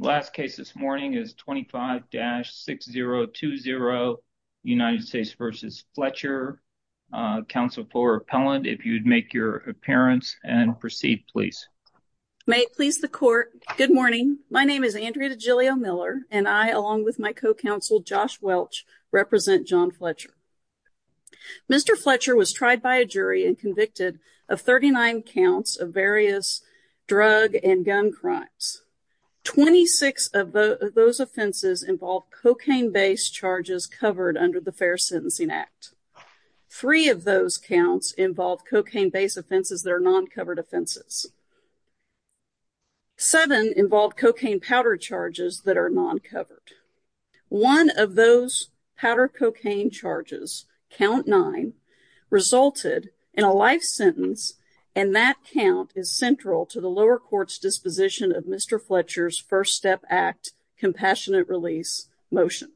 May it please the court, good morning. My name is Andrea DeGilio-Miller and I, along with my co-counsel Josh Welch, represent John Fletcher. Mr. Fletcher was tried by a jury and convicted of 39 counts of various drug and gun crimes. 26 of those offenses involved cocaine-based charges covered under the Fair Sentencing Act. 3 of those counts involved cocaine-based offenses that are non-covered offenses. 7 involved cocaine powder charges that are non-covered. One of those powder cocaine charges, count 9, resulted in a life sentence and that count is central to the lower court's disposition of Mr. Fletcher's First Step Act Compassionate Release motion.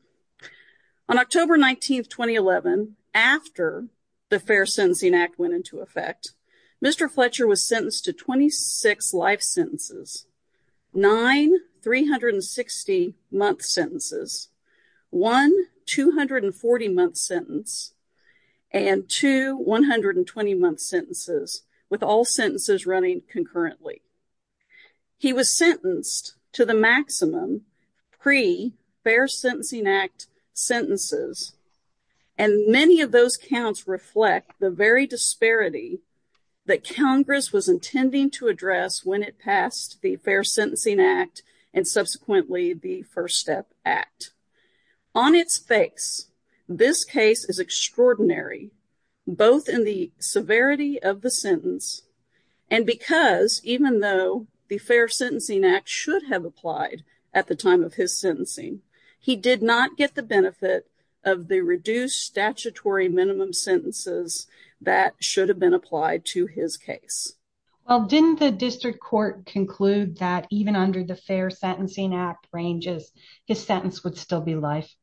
On October 19, 2011, after the Fair Sentencing Act went into effect, Mr. Fletcher was sentenced to 26 life sentences, 9 360-month sentences, 1 240-month sentence, and 2 120-month sentences, with all sentences running concurrently. He was sentenced to the maximum pre-Fair Sentencing Act sentences and many of those counts reflect the very disparity that Congress was intending to address when it passed the Fair Sentencing Act and subsequently the First Step Act. On its face, this case is extraordinary, both in the severity of the sentence and because even though the Fair Sentencing Act should have applied at the time of his sentencing, he did not get the benefit of the reduced statutory minimum sentences that should have been applied to his case. Well, didn't the district court conclude that even under the Fair Sentencing Act ranges, his sentence would still be life?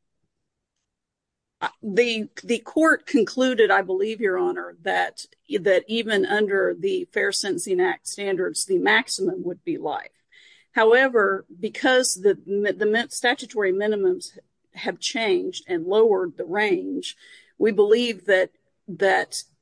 The court concluded, I believe, Your Honor, that even under the Fair Sentencing Act standards, the maximum would be life. However, because the statutory minimums have changed and lowered the range, we believe that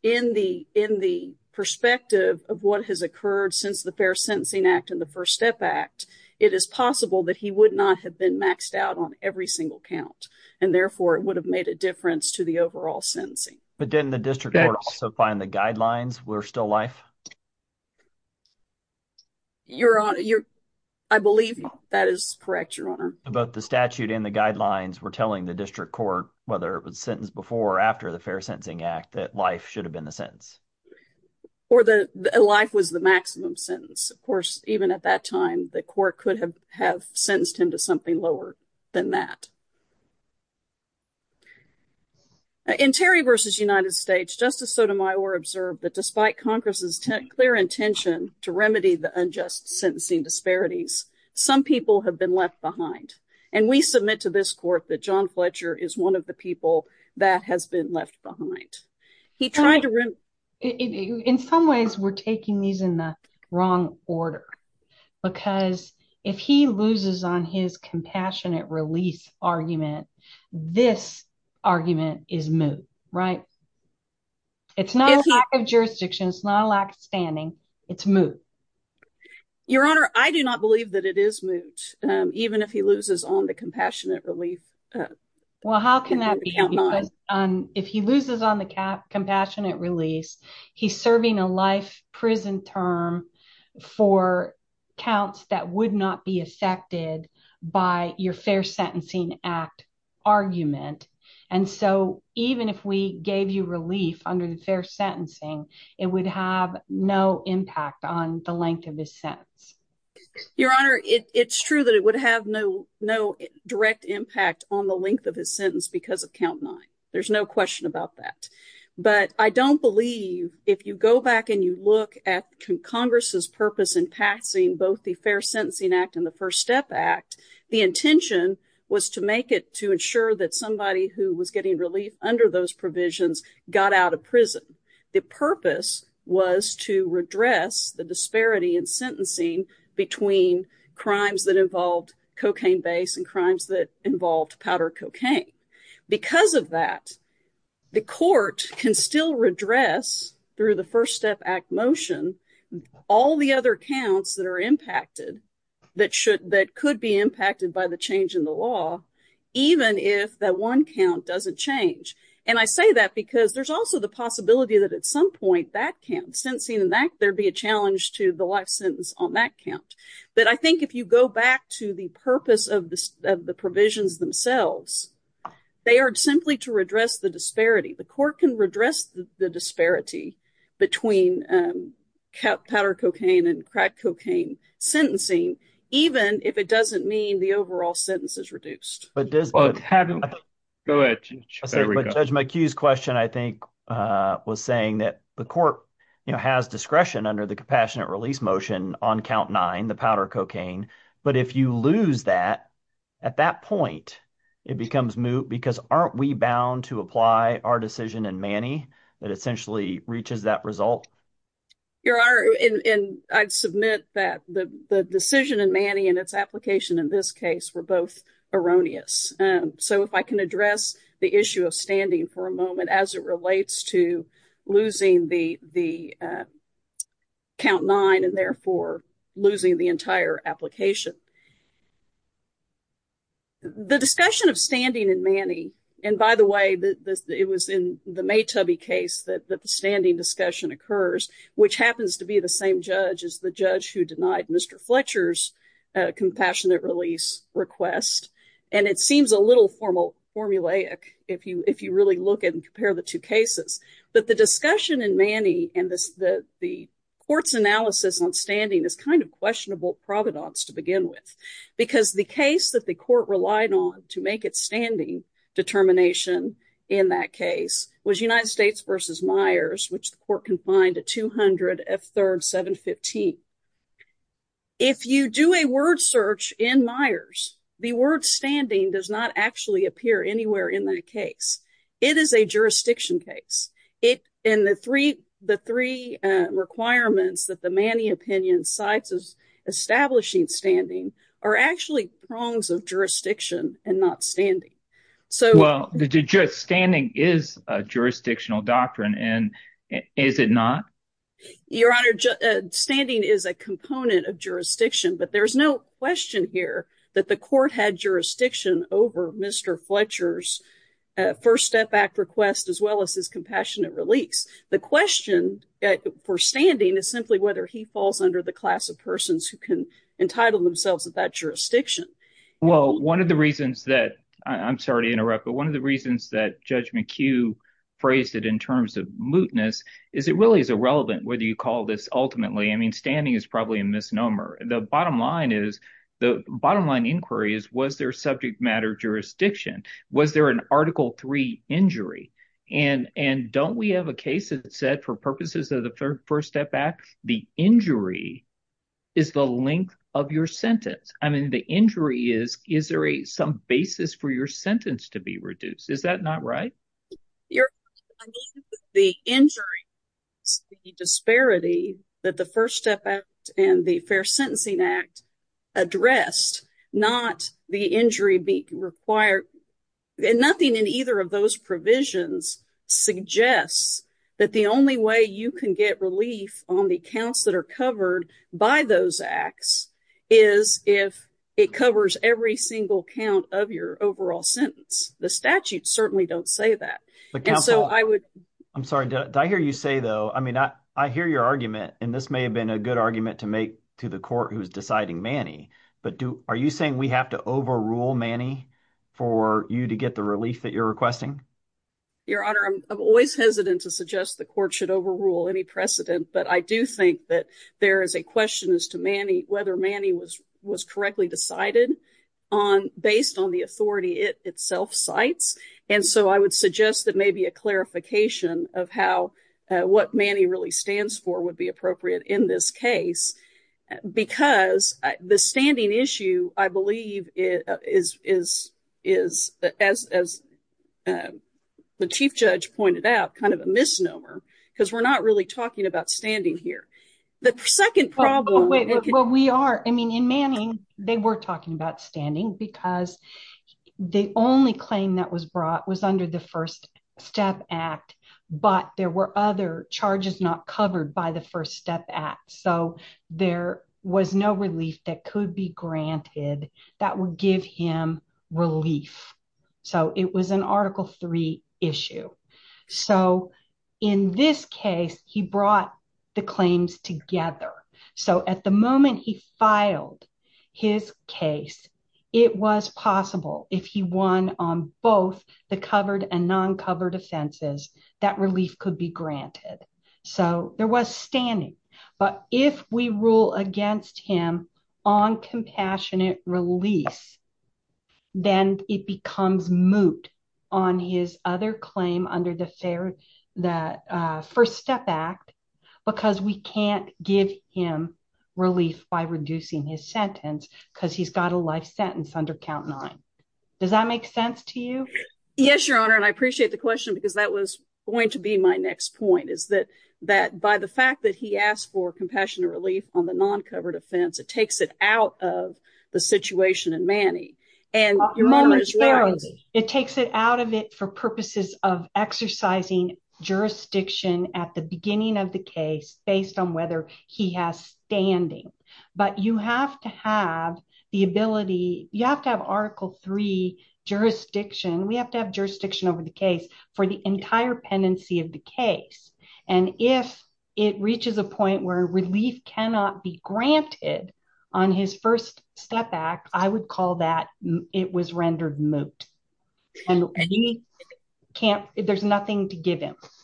in the perspective of what has occurred since the Fair Sentencing Act and the First Step Act, it is possible that he would not have been maxed out on every single count and therefore it would have made a difference to the overall sentencing. But didn't the district court also find the guidelines were still life? Your Honor, I believe that is correct, Your Honor. Both the statute and the guidelines were telling the district court, whether it was sentenced before or after the Fair Sentencing Act, that life should have been the sentence. Or that life was the maximum sentence. Of course, even at that time, the court could have sentenced him to something lower than that. In Terry v. United States, Justice Sotomayor observed that despite Congress's clear intention to remedy the unjust sentencing disparities, some people have been left behind. And we submit to this court that John Fletcher is one of the people that has been left behind. In some ways, we're taking these in the wrong order, because if he loses on his compassionate release argument, this argument is moot, right? It's not a lack of jurisdiction. It's not a lack of standing. It's moot. Your Honor, I do not believe that it is moot, even if he loses on the compassionate relief. Well, how can that be? If he loses on the compassionate release, he's serving a life prison term for counts that would not be affected by your Fair Sentencing Act argument. And so, even if we gave you relief under the Fair Sentencing, it would have no impact on the length of his sentence. Your Honor, it's true that it would have no direct impact on the length of his sentence because of count nine. There's no question about that. But I don't believe, if you go back and you look at Congress's purpose in passing both the Fair Sentencing Act and the First Step Act, the intention was to make it to ensure that somebody who was getting relief under those provisions got out of prison. The purpose was to redress the disparity in sentencing between crimes that involved cocaine-based and crimes that involved powdered cocaine. Because of that, the court can still redress, through the First Step Act motion, all the other counts that are impacted, that could be impacted by the change in the law, even if that one count doesn't change. And I say that because there's also the possibility that at some point that count, sentencing in that, there'd be a challenge to the life sentence on that count. But I think if you go back to the purpose of the provisions themselves, they are simply to redress the disparity. The court can redress the disparity between powdered cocaine and crack cocaine sentencing, even if it doesn't mean the overall sentence is reduced. But Judge McHugh's question, I think, was saying that the court has discretion under the Compassionate Release motion on count nine, the powdered cocaine. But if you lose that, at that point, it becomes moot, because aren't we bound to apply our decision in Manny that essentially reaches that result? Your Honor, and I'd submit that the decision in Manny and its application in this case were both erroneous. So if I can address the issue of standing for a moment as it relates to losing the count nine and therefore losing the entire application. The discussion of standing in Manny, and by the way, it was in the Maytubby case that the standing discussion occurs, which happens to be the same judge as the judge who denied Mr. Fletcher's Compassionate Release request. And it seems a little formulaic if you really look at and compare the two cases. But the discussion in Manny and the court's analysis on standing is kind of questionable providence to begin with. Because the case that the court relied on to make its standing determination in that case was United States v. Myers, which the court confined to 200 F3rd 715. If you do a word search in Myers, the word standing does not actually appear anywhere in that case. It is a jurisdiction case. And the three requirements that the Manny opinion cites as establishing standing are actually prongs of jurisdiction and not standing. Well, standing is a jurisdictional doctrine, and is it not? Your Honor, standing is a component of jurisdiction, but there's no question here that the court had jurisdiction over Mr. Fletcher's First Step Act request as well as his Compassionate Release. The question for standing is simply whether he falls under the class of persons who can entitle themselves at that jurisdiction. Well, one of the reasons that – I'm sorry to interrupt, but one of the reasons that Judge McHugh phrased it in terms of mootness is it really is irrelevant whether you call this ultimately. I mean standing is probably a misnomer. The bottom line is – the bottom line inquiry is was there subject matter jurisdiction? Was there an Article 3 injury? And don't we have a case that said for purposes of the First Step Act, the injury is the length of your sentence. I mean the injury is – is there some basis for your sentence to be reduced? Is that not right? Your Honor, I mean the injury is the disparity that the First Step Act and the Fair Sentencing Act addressed, not the injury required. Nothing in either of those provisions suggests that the only way you can get relief on the counts that are covered by those acts is if it covers every single count of your overall sentence. The statutes certainly don't say that. I'm sorry. Did I hear you say, though – I mean I hear your argument, and this may have been a good argument to make to the court who is deciding Manny. But are you saying we have to overrule Manny for you to get the relief that you're requesting? Your Honor, I'm always hesitant to suggest the court should overrule any precedent, but I do think that there is a question as to Manny – whether Manny was correctly decided based on the authority it itself cites. And so I would suggest that maybe a clarification of how – what Manny really stands for would be appropriate in this case. Because the standing issue, I believe, is, as the Chief Judge pointed out, kind of a misnomer. Because we're not really talking about standing here. The second problem – Well, we are. I mean, in Manning, they were talking about standing because the only claim that was brought was under the First Step Act, but there were other charges not covered by the First Step Act. So there was no relief that could be granted that would give him relief. So it was an Article III issue. So in this case, he brought the claims together. So at the moment he filed his case, it was possible, if he won on both the covered and non-covered offenses, that relief could be granted. So there was standing. But if we rule against him on compassionate release, then it becomes moot on his other claim under the First Step Act because we can't give him relief by reducing his sentence because he's got a life sentence under Count 9. Does that make sense to you? Yes, Your Honor, and I appreciate the question because that was going to be my next point. By the fact that he asked for compassionate relief on the non-covered offense, it takes it out of the situation in Manning. Your Honor, it takes it out of it for purposes of exercising jurisdiction at the beginning of the case based on whether he has standing. But you have to have the ability, you have to have Article III jurisdiction, we have to have jurisdiction over the case for the entire pendency of the case. And if it reaches a point where relief cannot be granted on his First Step Act, I would call that it was rendered moot. And we can't, there's nothing to give him. First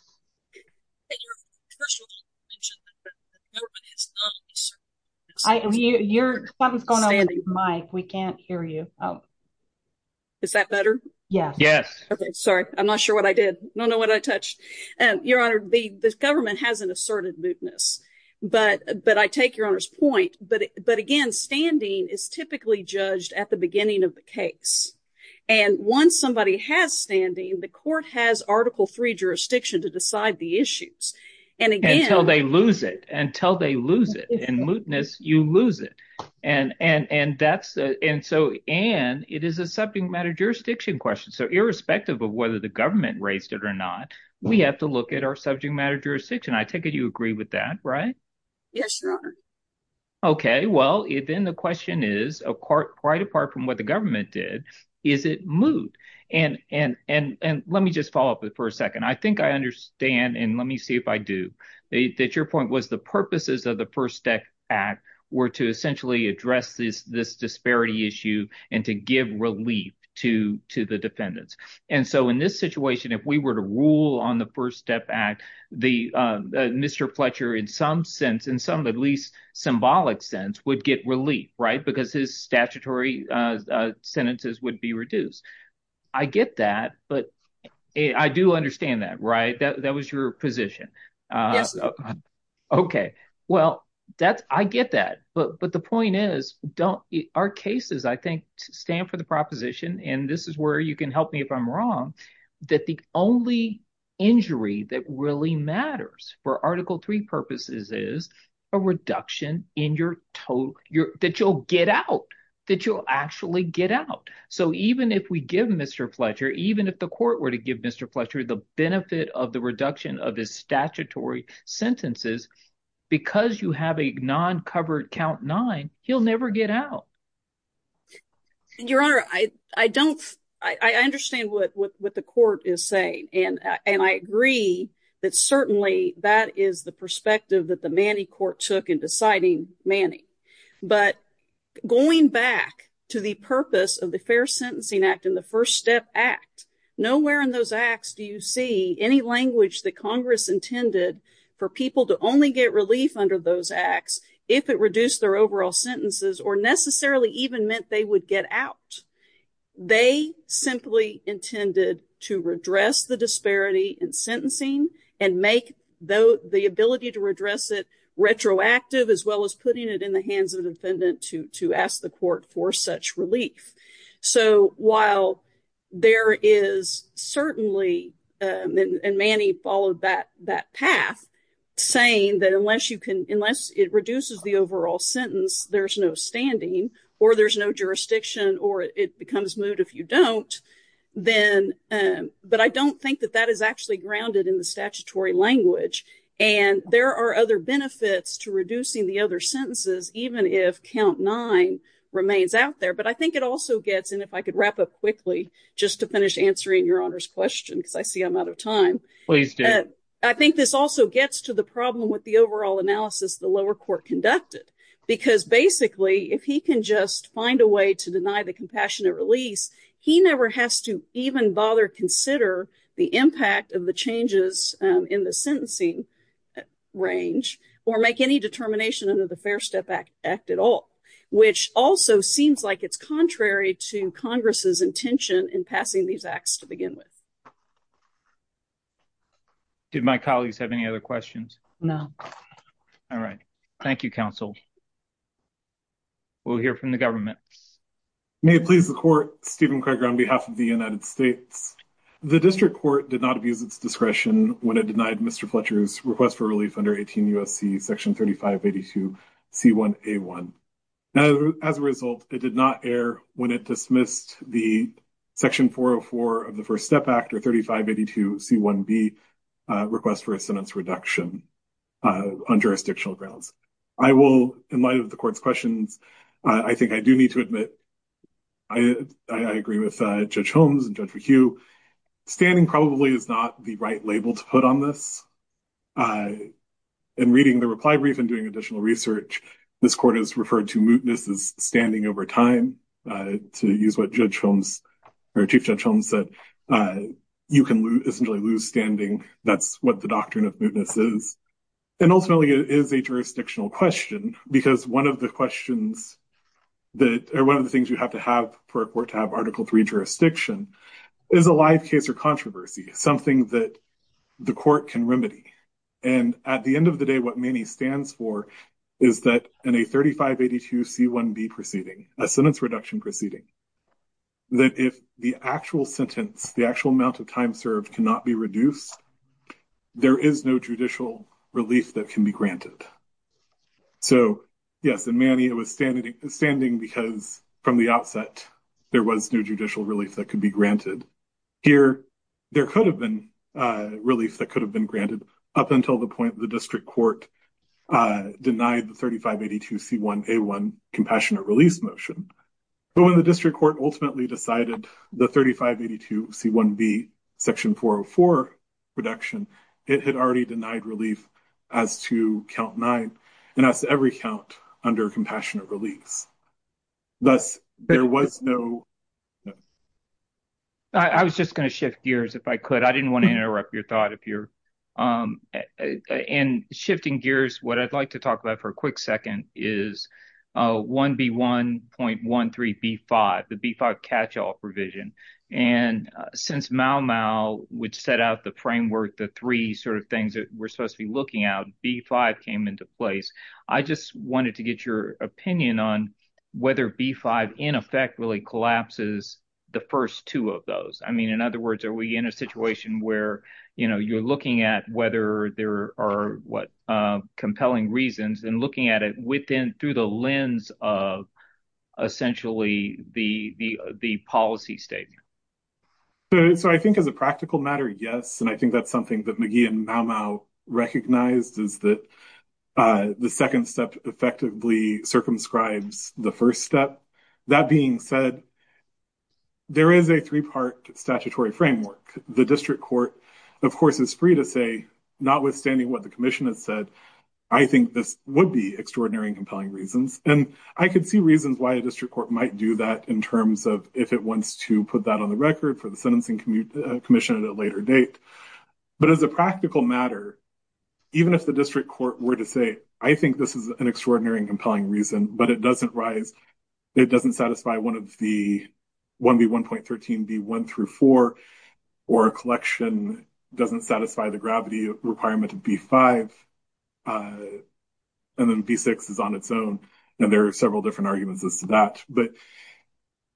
of all, you mentioned that the government has not asserted mootness. Something's going on with the mic. We can't hear you. Is that better? Yes. Okay, sorry. I'm not sure what I did. I don't know what I touched. Your Honor, the government hasn't asserted mootness, but I take Your Honor's point. But again, standing is typically judged at the beginning of the case. And once somebody has standing, the court has Article III jurisdiction to decide the issues. Until they lose it. Until they lose it. And mootness, you lose it. And so, Anne, it is a subject matter jurisdiction question. So irrespective of whether the government raised it or not, we have to look at our subject matter jurisdiction. I take it you agree with that, right? Yes, Your Honor. Okay, well, then the question is, quite apart from what the government did, is it moot? And let me just follow up for a second. I think I understand, and let me see if I do, that your point was the purposes of the First Step Act were to essentially address this disparity issue and to give relief to the defendants. And so in this situation, if we were to rule on the First Step Act, Mr. Fletcher in some sense, in some at least symbolic sense, would get relief, right? Because his statutory sentences would be reduced. I get that, but I do understand that, right? That was your position. Yes, Your Honor. Okay, well, that's – I get that. But the point is, don't – our cases, I think, stand for the proposition, and this is where you can help me if I'm wrong, that the only injury that really matters for Article 3 purposes is a reduction in your – that you'll get out, that you'll actually get out. So even if we give Mr. Fletcher, even if the court were to give Mr. Fletcher the benefit of the reduction of his statutory sentences, because you have a non-covered count nine, he'll never get out. Your Honor, I don't – I understand what the court is saying, and I agree that certainly that is the perspective that the Manning court took in deciding Manning. But going back to the purpose of the Fair Sentencing Act and the First Step Act, nowhere in those acts do you see any language that Congress intended for people to only get relief under those acts if it reduced their overall sentences or necessarily even meant they would get out. They simply intended to redress the disparity in sentencing and make the ability to redress it retroactive as well as putting it in the hands of the defendant to ask the court for such relief. So while there is certainly – and Manning followed that path, saying that unless you can – unless it reduces the overall sentence, there's no standing or there's no jurisdiction or it becomes moot if you don't, then – but I don't think that that is actually grounded in the statutory language. And there are other benefits to reducing the other sentences even if count nine remains out there. But I think it also gets – and if I could wrap up quickly just to finish answering Your Honor's question, because I see I'm out of time. Please do. But I think this also gets to the problem with the overall analysis the lower court conducted. Because basically if he can just find a way to deny the compassionate release, he never has to even bother consider the impact of the changes in the sentencing range or make any determination under the Fair Step Act at all. Which also seems like it's contrary to Congress's intention in passing these acts to begin with. Did my colleagues have any other questions? No. All right. Thank you, counsel. We'll hear from the government. May it please the court, Stephen Craig on behalf of the United States. The district court did not abuse its discretion when it denied Mr. Fletcher's request for relief under 18 U.S.C. section 3582 C1A1. As a result, it did not err when it dismissed the section 404 of the First Step Act or 3582 C1B request for a sentence reduction on jurisdictional grounds. I will, in light of the court's questions, I think I do need to admit I agree with Judge Holmes and Judge McHugh. Standing probably is not the right label to put on this. In reading the reply brief and doing additional research, this court has referred to mootness as standing over time. To use what Judge Holmes or Chief Judge Holmes said, you can essentially lose standing. That's what the doctrine of mootness is. And ultimately, it is a jurisdictional question, because one of the things you have to have for a court to have Article III jurisdiction is a live case or controversy, something that the court can remedy. And at the end of the day, what MANI stands for is that in a 3582 C1B proceeding, a sentence reduction proceeding, that if the actual sentence, the actual amount of time served cannot be reduced, there is no judicial relief that can be granted. So, yes, in MANI it was standing because from the outset there was no judicial relief that could be granted. Here, there could have been relief that could have been granted up until the point the district court denied the 3582 C1A1 compassionate release motion. But when the district court ultimately decided the 3582 C1B Section 404 reduction, it had already denied relief as to Count 9 and as to every count under compassionate release. Thus, there was no. I was just going to shift gears if I could. I didn't want to interrupt your thought if you're in shifting gears. What I'd like to talk about for a quick second is 1B1.13B5, the B5 catch all provision. And since Mau Mau, which set out the framework, the three sort of things that we're supposed to be looking out, B5 came into place. I just wanted to get your opinion on whether B5 in effect really collapses the first two of those. I mean, in other words, are we in a situation where, you know, you're looking at whether there are what compelling reasons and looking at it within through the lens of essentially the policy statement? So I think as a practical matter, yes. And I think that's something that McGee and Mau Mau recognized is that the second step effectively circumscribes the first step. That being said, there is a three part statutory framework. The district court, of course, is free to say, notwithstanding what the commission has said, I think this would be extraordinary and compelling reasons. And I could see reasons why a district court might do that in terms of if it wants to put that on the record for the sentencing commission at a later date. But as a practical matter, even if the district court were to say, I think this is an extraordinary and compelling reason, but it doesn't rise. It doesn't satisfy one of the 1B1.13, B1 through 4, or a collection doesn't satisfy the gravity requirement of B5, and then B6 is on its own. And there are several different arguments as to that. But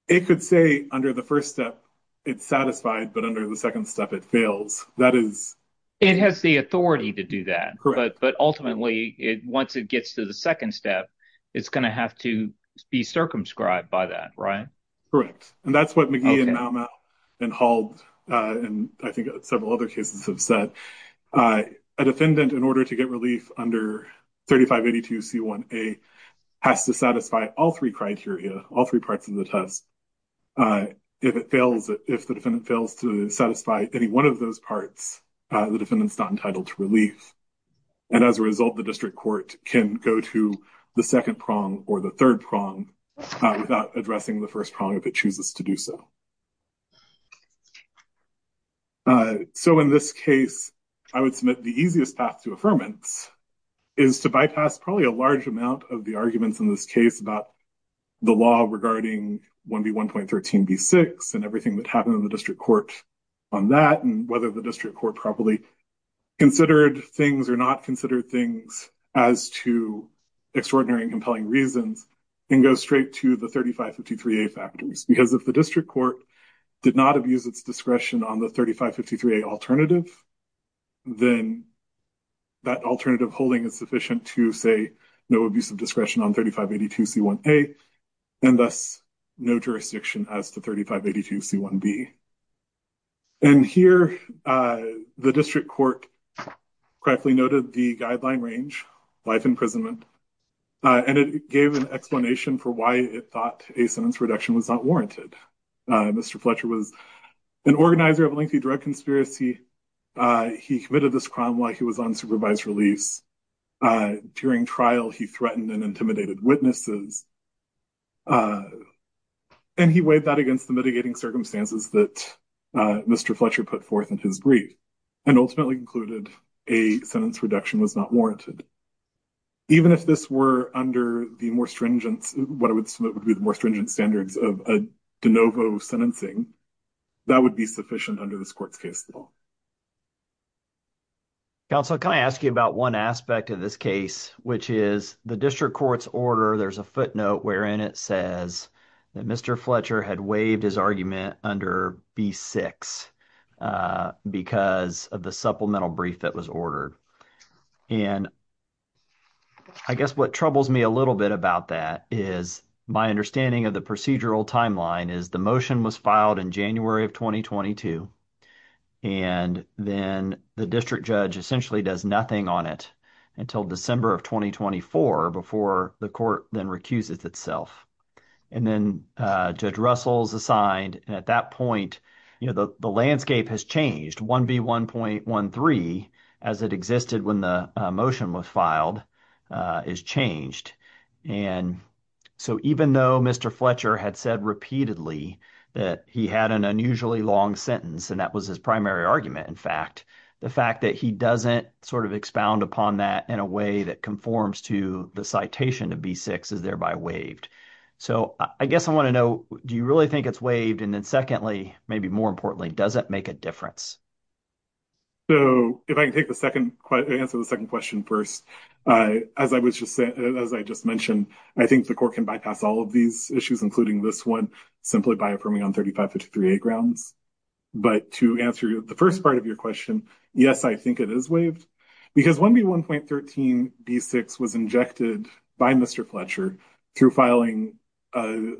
it could say under the first step it's satisfied, but under the second step it fails. That is... It has the authority to do that. But ultimately, once it gets to the second step, it's going to have to be circumscribed by that, right? Correct. And that's what McGee and Maumau and Hall and I think several other cases have said. A defendant, in order to get relief under 3582C1A, has to satisfy all three criteria, all three parts of the test. If it fails, if the defendant fails to satisfy any one of those parts, the defendant's not entitled to relief. And as a result, the district court can go to the second prong or the third prong without addressing the first prong if it chooses to do so. So in this case, I would submit the easiest path to affirmance is to bypass probably a large amount of the arguments in this case about the law regarding 1B1.13, B6 and everything that happened in the district court on that and whether the district court properly considered things or not considered things as to extraordinary and compelling reasons and go straight to the 3553A factors. Because if the district court did not abuse its discretion on the 3553A alternative, then that alternative holding is sufficient to say no abuse of discretion on 3582C1A and thus no jurisdiction as to 3582C1B. And here, the district court correctly noted the guideline range, life imprisonment, and it gave an explanation for why it thought a sentence reduction was not warranted. Mr. Fletcher was an organizer of a lengthy drug conspiracy. He committed this crime while he was on supervised release. During trial, he threatened and intimidated witnesses, and he weighed that against the mitigating circumstances that Mr. Fletcher put forth in his brief and ultimately concluded a sentence reduction was not warranted. Even if this were under the more stringent, what I would submit would be the more stringent standards of de novo sentencing, that would be sufficient under this court's case law. Counsel, can I ask you about one aspect of this case, which is the district court's order, there's a footnote wherein it says that Mr. Fletcher had waived his argument under B6 because of the supplemental brief that was ordered. And I guess what troubles me a little bit about that is my understanding of the procedural timeline is the motion was filed in January of 2022. And then the district judge essentially does nothing on it until December of 2024 before the court then recuses itself. And then Judge Russell is assigned. And at that point, the landscape has changed. 1B1.13, as it existed when the motion was filed, is changed. And so even though Mr. Fletcher had said repeatedly that he had an unusually long sentence, and that was his primary argument, in fact, the fact that he doesn't sort of expound upon that in a way that conforms to the citation of B6 is thereby waived. So I guess I want to know, do you really think it's waived? And then secondly, maybe more importantly, does it make a difference? So if I can take the second, answer the second question first. As I was just saying, as I just mentioned, I think the court can bypass all of these issues, including this one, simply by affirming on 3553A grounds. But to answer the first part of your question, yes, I think it is waived. Because 1B1.13B6 was injected by Mr. Fletcher through filing a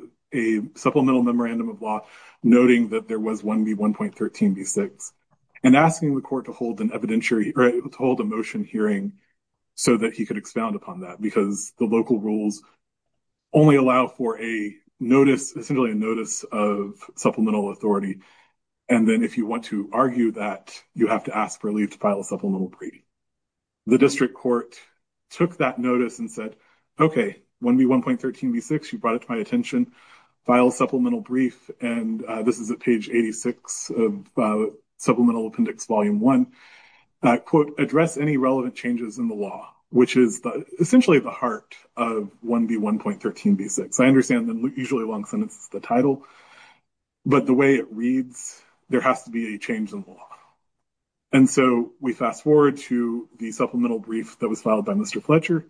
supplemental memorandum of law noting that there was 1B1.13B6 and asking the court to hold a motion hearing so that he could expound upon that, because the local rules only allow for a notice, essentially a notice of supplemental authority. And then if you want to argue that, you have to ask for leave to file a supplemental brief. The district court took that notice and said, OK, 1B1.13B6, you brought it to my attention, file a supplemental brief. And this is at page 86 of Supplemental Appendix Volume 1. Quote, address any relevant changes in the law, which is essentially the heart of 1B1.13B6. I understand that usually long sentence is the title, but the way it reads, there has to be a change in the law. And so we fast forward to the supplemental brief that was filed by Mr. Fletcher,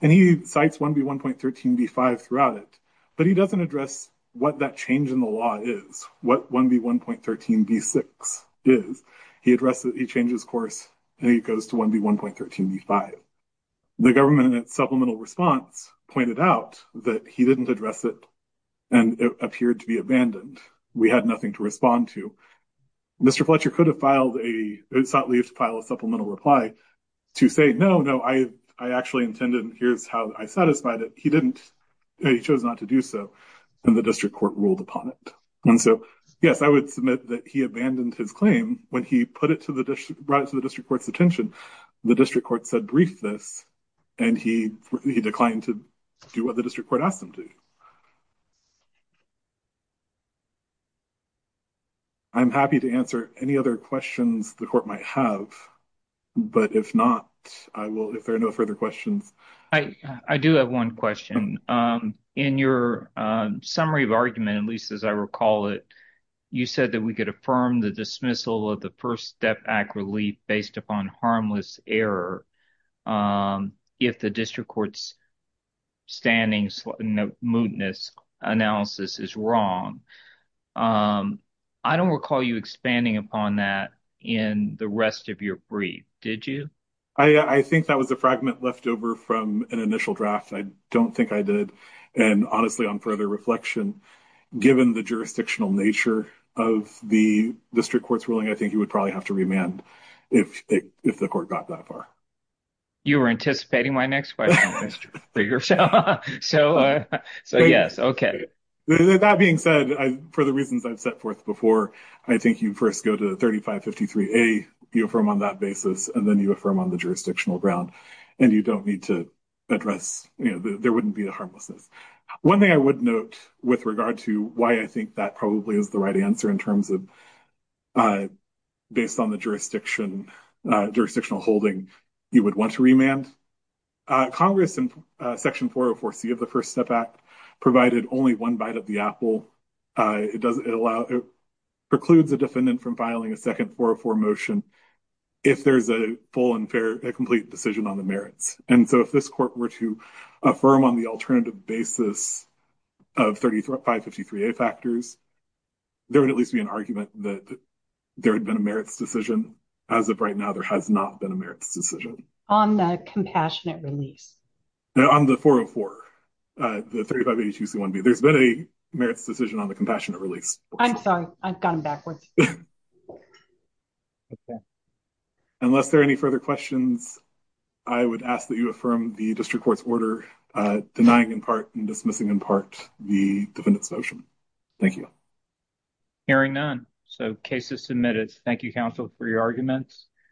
and he cites 1B1.13B5 throughout it. But he doesn't address what that change in the law is, what 1B1.13B6 is. He addresses it, he changes course, and he goes to 1B1.13B5. The government in its supplemental response pointed out that he didn't address it and it appeared to be abandoned. We had nothing to respond to. Mr. Fletcher could have filed a – sought leave to file a supplemental reply to say, no, no, I actually intended, and here's how I satisfied it. He didn't – he chose not to do so, and the district court ruled upon it. And so, yes, I would submit that he abandoned his claim when he put it to the – brought it to the district court's attention. The district court said brief this, and he declined to do what the district court asked him to. I'm happy to answer any other questions the court might have, but if not, I will – if there are no further questions. I do have one question. In your summary of argument, at least as I recall it, you said that we could affirm the dismissal of the First Step Act relief based upon harmless error if the district court's standing mootness analysis is wrong. I don't recall you expanding upon that in the rest of your brief, did you? I think that was a fragment left over from an initial draft. I don't think I did. And honestly, on further reflection, given the jurisdictional nature of the district court's ruling, I think he would probably have to remand if the court got that far. You were anticipating my next question. So, yes, okay. That being said, for the reasons I've set forth before, I think you first go to 3553A, you affirm on that basis, and then you affirm on the jurisdictional ground. And you don't need to address – you know, there wouldn't be a harmlessness. One thing I would note with regard to why I think that probably is the right answer in terms of based on the jurisdictional holding, you would want to remand. Congress in Section 404C of the First Step Act provided only one bite of the apple. It precludes a defendant from filing a second 404 motion if there's a full and fair – a complete decision on the merits. And so if this court were to affirm on the alternative basis of 3553A factors, there would at least be an argument that there had been a merits decision. As of right now, there has not been a merits decision. On the compassionate release? No, on the 404, the 3582C1B. There's been a merits decision on the compassionate release. I'm sorry. I've gone backwards. Okay. Unless there are any further questions, I would ask that you affirm the district court's order denying in part and dismissing in part the defendant's motion. Thank you. Hearing none, so case is submitted. Thank you, counsel, for your arguments.